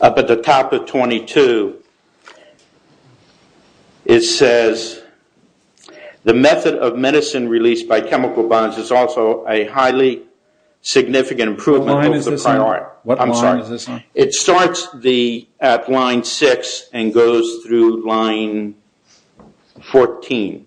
up at the top of 22, it says the method of medicine released by chemical bonds is also a highly significant improvement. What line is this on? I'm sorry. What line is this on? It starts at line 6 and goes through line 14.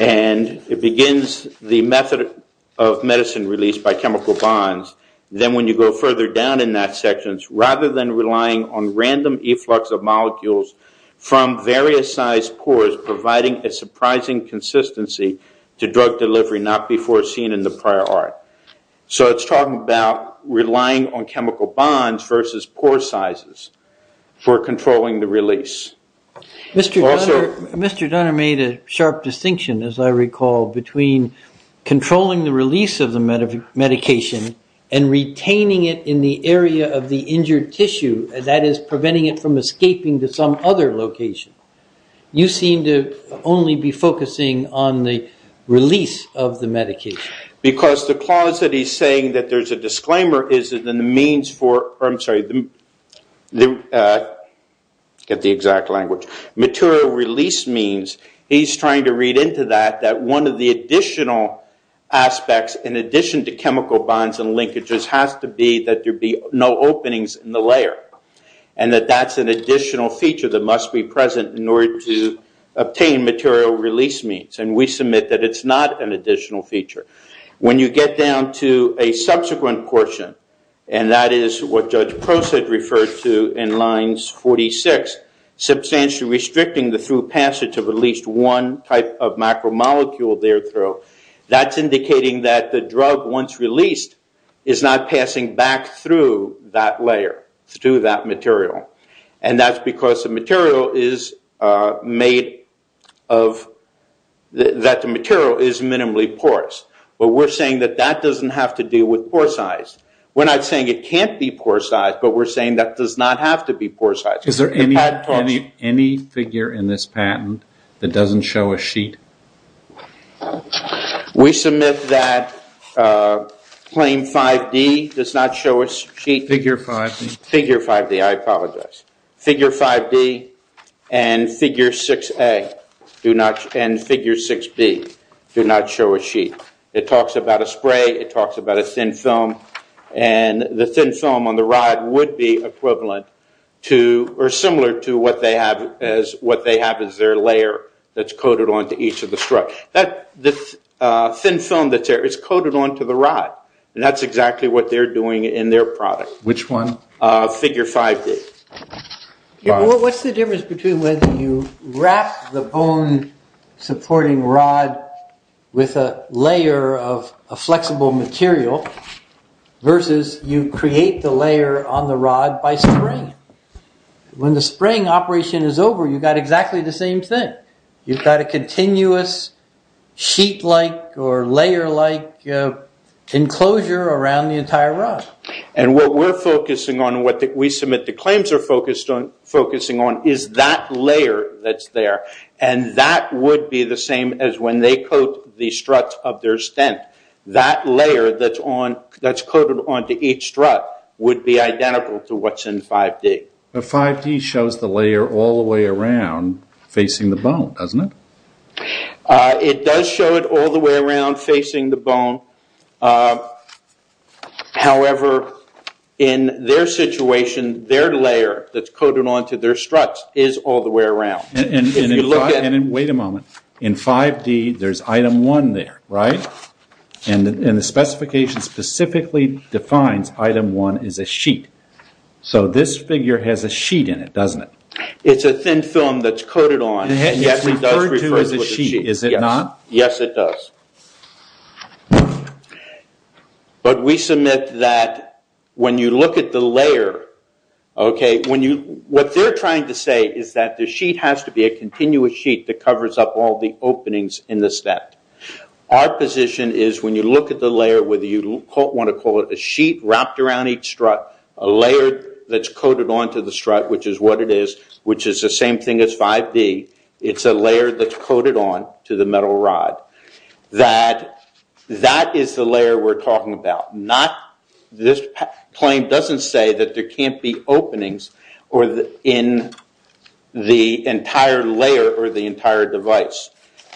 And it begins the method of medicine released by chemical bonds. Then when you go further down in that section, rather than relying on random efflux of molecules from various size pores providing a surprising consistency to drug delivery not before seen in the prior art. So it's talking about relying on chemical bonds versus pore sizes for controlling the release. Mr. Dunner made a sharp distinction, as I recall, between controlling the release of the medication and retaining it in the area of the injured tissue. That is, preventing it from escaping to some other location. You seem to only be focusing on the release of the medication. Because the clause that he's saying that there's a disclaimer is that the means for... I'm sorry. Get the exact language. Material release means he's trying to read into that that one of the additional aspects in addition to chemical bonds and linkages has to be that there be no openings in the layer. And that that's an additional feature that must be present in order to obtain material release means. And we submit that it's not an additional feature. When you get down to a subsequent portion, and that is what Judge Proced referred to in lines 46, substantially restricting the through passage of at least one type of macromolecule there through, that's indicating that the drug once released is not passing back through that layer, through that material. And that's because the material is made of... that the material is minimally porous. But we're saying that that doesn't have to do with pore size. We're not saying it can't be pore size, but we're saying that does not have to be pore size. Is there any figure in this patent that doesn't show a sheet? We submit that claim 5D does not show a sheet. Figure 5D, I apologize. Figure 5D and figure 6A do not... and figure 6B do not show a sheet. It talks about a spray. It talks about a thin film. And the thin film on the rod would be equivalent to or similar to what they have as what they have is their layer that's coated onto each of the struts. That thin film that's there is coated onto the rod. And that's exactly what they're doing in their product. Which one? Figure 5D. What's the difference between whether you wrap the bone supporting rod with a layer of a flexible material versus you create the layer on the rod by spraying? When the spraying operation is over, you've got exactly the same thing. You've got a continuous sheet-like or layer-like enclosure around the entire rod. And what we're focusing on, what we submit the claims are focusing on is that layer that's there. And that would be the same as when they coat the struts of their stent. That layer that's coated onto each strut would be identical to what's in 5D. But 5D shows the layer all the way around facing the bone, doesn't it? It does show it all the way around facing the bone. However, in their situation, their layer that's coated onto their struts is all the way around. Wait a moment. In 5D, there's item 1 there, right? And the specification specifically defines item 1 is a sheet. So this figure has a sheet in it, doesn't it? It's a thin film that's coated on. And it's referred to as a sheet, is it not? Yes, it does. But we submit that when you look at the layer, what they're trying to say is that the sheet has to be a continuous sheet that covers up all the openings in the stent. Our position is when you look at the layer, whether you want to call it a sheet wrapped around each strut, a layer that's coated onto the strut, which is what it is, which is the same thing as 5D, it's a layer that's coated on to the metal rod. That that is the layer we're talking about. This claim doesn't say that there can't be openings or in the entire layer or the entire device.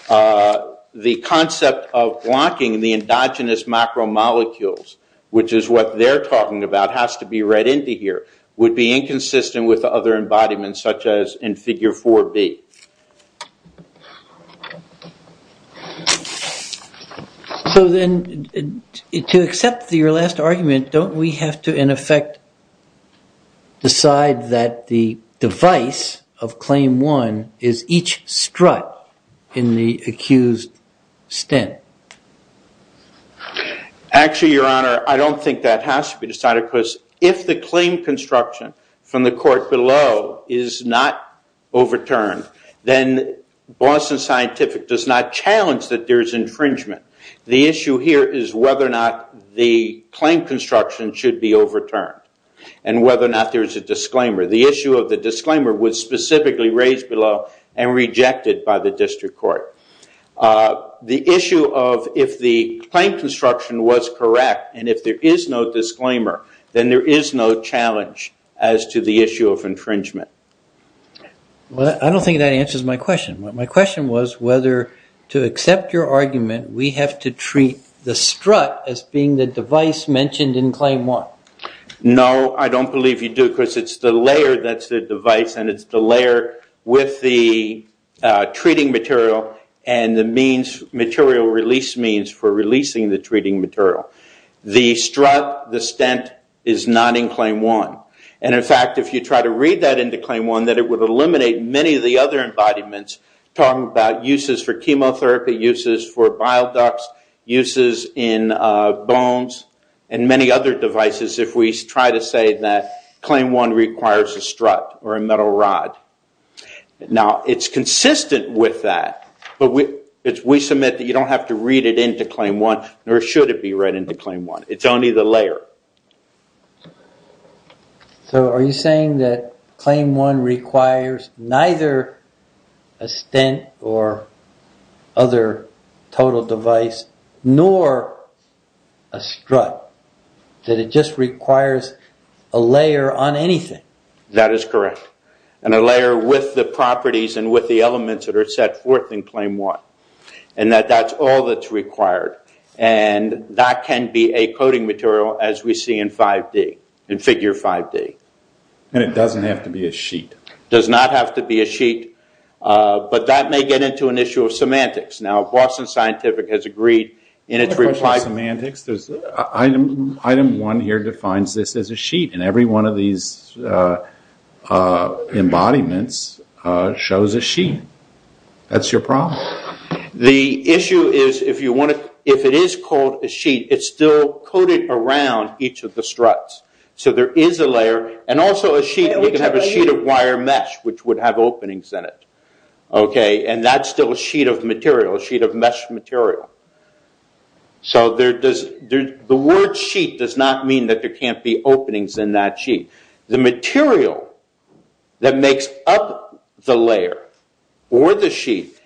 The concept of blocking the endogenous macromolecules, which is what they're talking about, has to be read into here, would be inconsistent with other embodiments such as in figure 4B. So then, to accept your last argument, don't we have to, in effect, decide that the device of claim one is each strut in the accused stent? Actually, Your Honor, I don't think that has to be decided because if the claim construction from the court below is not overturned, then Boston Scientific does not challenge that there's infringement. The issue here is whether or not the claim construction should be overturned and whether or not there's a disclaimer. The issue of the disclaimer was specifically raised below and rejected by the district court. The issue of if the claim construction was correct and if there is no disclaimer, then there is no challenge as to the issue of infringement. Well, I don't think that answers my question. My question was whether, to accept your argument, we have to treat the strut as being the device mentioned in claim one. No, I don't believe you do because it's the layer that's the device and it's the layer with the treating material and the material release means for releasing the treating material. The strut, the stent, is not in claim one. And in fact, if you try to read that into claim one, it would eliminate many of the other embodiments talking about uses for chemotherapy, uses for bile ducts, uses in bones and many other devices if we try to say that claim one requires a strut or a metal rod. Now, it's consistent with that, but we submit that you don't have to read it into claim one nor should it be read into claim one. It's only the layer. So, are you saying that claim one requires neither a stent or other total device nor a strut? That it just requires a layer on anything? That is correct. And a layer with the properties and with the elements that are set forth in claim one. And that that's all that's required. And that can be a coating material as we see in 5D, in figure 5D. And it doesn't have to be a sheet? Does not have to be a sheet. But that may get into an issue of semantics. Now, Boston Scientific has agreed in its reply... Semantics? Item one here defines this as a sheet and every one of these embodiments shows a sheet. That's your problem. The issue is if it is called a sheet, it's still coated around each of the struts. So, there is a layer and also a sheet. You can have a sheet of wire mesh which would have openings in it. And that's still a sheet of material, a sheet of mesh material. So, the word sheet does not mean that there can't be openings in that sheet. The material that makes up the layer or the sheet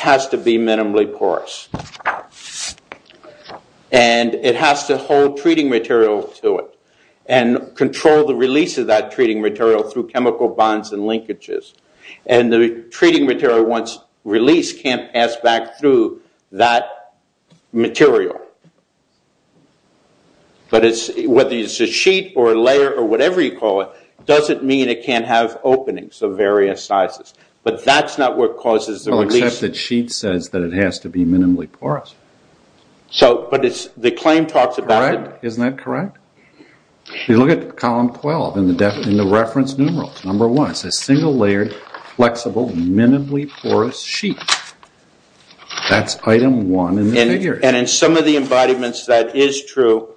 has to be minimally porous. And it has to hold treating material to it and control the release of that treating material through chemical bonds and linkages. And the treating material, once released, can't pass back through that material. But whether it's a sheet or a layer or whatever you call it, doesn't mean it can't have openings of various sizes. But that's not what causes the release. Well, except that sheet says that it has to be minimally porous. So, but it's the claim talks about it. Correct. Isn't that correct? You look at column 12 in the reference numerals. Number one, it says single layered, flexible, minimally porous sheet. That's item one in the figure. And in some of the embodiments, that is true.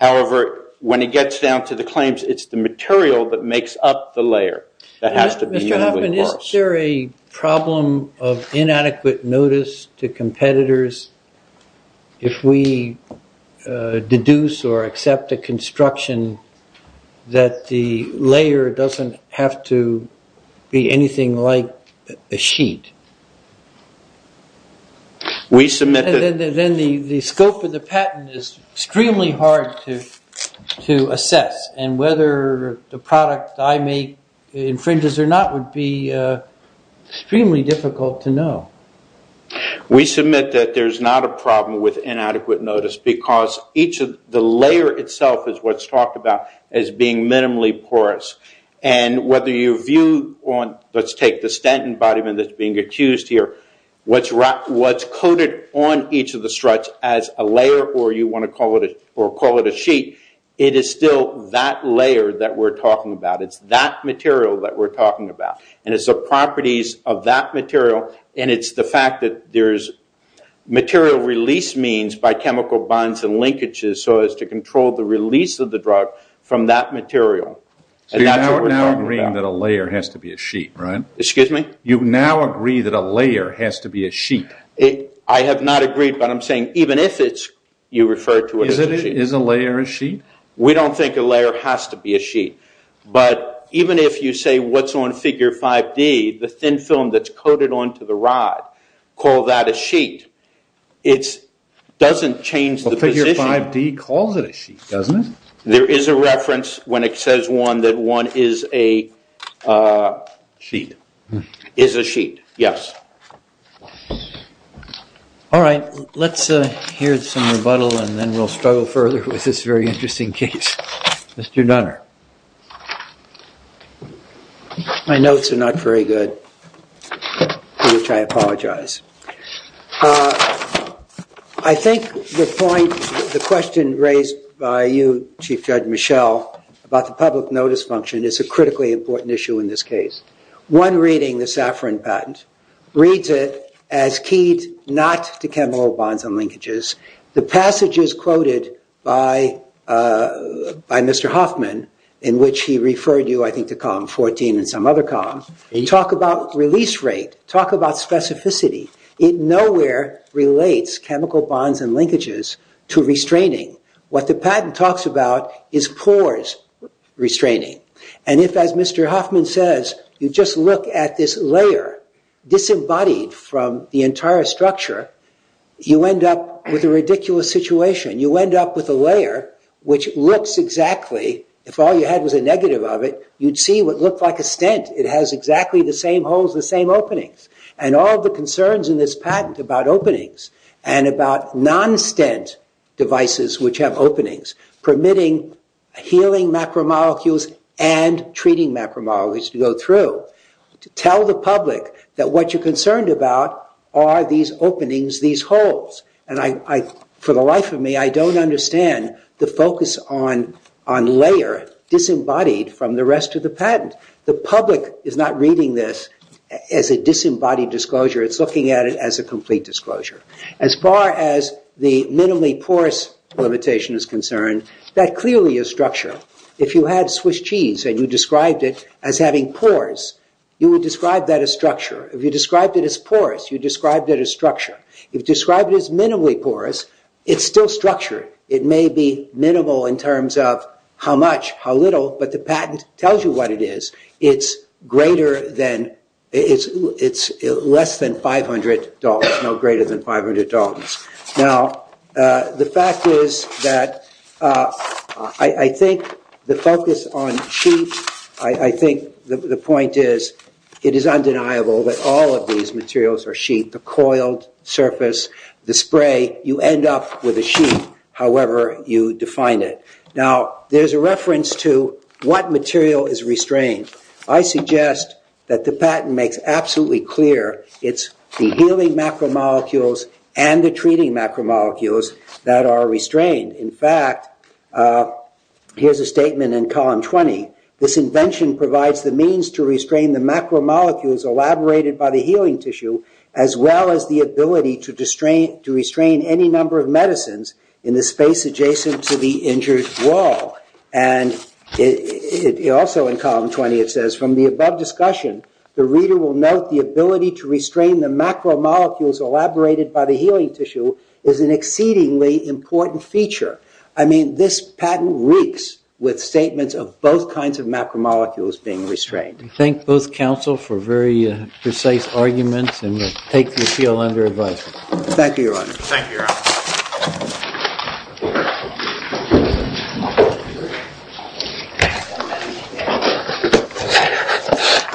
However, when it gets down to the claims, it's the material that makes up the layer that has to be minimally porous. Mr. Hoffman, is there a problem of inadequate notice to competitors if we deduce or accept a construction that the layer doesn't have to be anything like a sheet? Then the scope of the patent is extremely hard to assess. And whether the product I make infringes or not would be extremely difficult to know. We submit that there's not a problem with inadequate notice because each of the layer itself is what's talked about as being minimally porous. And whether you view on, let's take the Stanton embodiment that's being accused here, what's coded on each of the struts as a layer or you want to call it a sheet, it is still that layer that we're talking about. It's that material that we're talking about. And it's the properties of that material. And it's the fact that there's material release means by chemical bonds and linkages so as to control the release of the drug from that material. So you're now agreeing that a layer has to be a sheet, right? Excuse me? You now agree that a layer has to be a sheet. I have not agreed, but I'm saying even if it's, you refer to it as a sheet. Is a layer a sheet? We don't think a layer has to be a sheet. But even if you say what's on figure 5D, the thin film that's coated onto the rod, call that a sheet, it doesn't change the position. Figure 5D calls it a sheet, doesn't it? There is a reference when it says one, that one is a sheet, yes. All right, let's hear some rebuttal and then we'll struggle further with this very interesting case. Mr. Dunner. My notes are not very good, to which I apologize. I think the point, the question raised by you, Chief Judge Michel, about the public notice function is a critically important issue in this case. One reading, the Safran patent, reads it as keyed not to chemical bonds and linkages. The passages quoted by Mr. Hoffman in which he referred you, I think, to column 14 and some other column, talk about release rate, talk about specificity. It nowhere relates chemical bonds and linkages to restraining. What the patent talks about is pores restraining. And if, as Mr. Hoffman says, you just look at this layer disembodied from the entire structure, you end up with a ridiculous situation. You end up with a layer which looks exactly, if all you had was a negative of it, you'd see what looked like a stent. It has exactly the same holes, the same openings. And all the concerns in this patent about openings and about non-stent devices which have openings, permitting healing macromolecules and treating macromolecules to go through, to tell the public that what you're concerned about are these openings, these holes. And for the life of me, I don't understand the focus on layer disembodied from the rest of the patent. The public is not reading this as a disembodied disclosure. It's looking at it as a complete disclosure. As far as the minimally porous limitation is concerned, that clearly is structure. If you had Swiss cheese and you described it as having pores, you would describe that as structure. If you described it as porous, you described it as structure. If you describe it as minimally porous, it's still structure. It may be minimal in terms of how much, how little, but the patent tells you what it is. It's less than $500, no greater than $500. Now, the fact is that I think the focus on sheet, I think the point is it is undeniable that all of these materials are sheet. The coiled surface, the spray, you end up with a sheet. However, you define it. Now, there's a reference to what material is restrained. I suggest that the patent makes absolutely clear it's the healing macromolecules and the treating macromolecules that are restrained. In fact, here's a statement in column 20. This invention provides the means to restrain the macromolecules elaborated by the healing tissue as well as the ability to restrain any number of medicines in the space adjacent to the injured wall. And also in column 20, it says, from the above discussion, the reader will note the ability to restrain the macromolecules elaborated by the healing tissue is an exceedingly important feature. I mean, this patent reeks with statements of both kinds of macromolecules being restrained. and we take the appeal under advisory. Thank you, Your Honor. Thank you, Your Honor.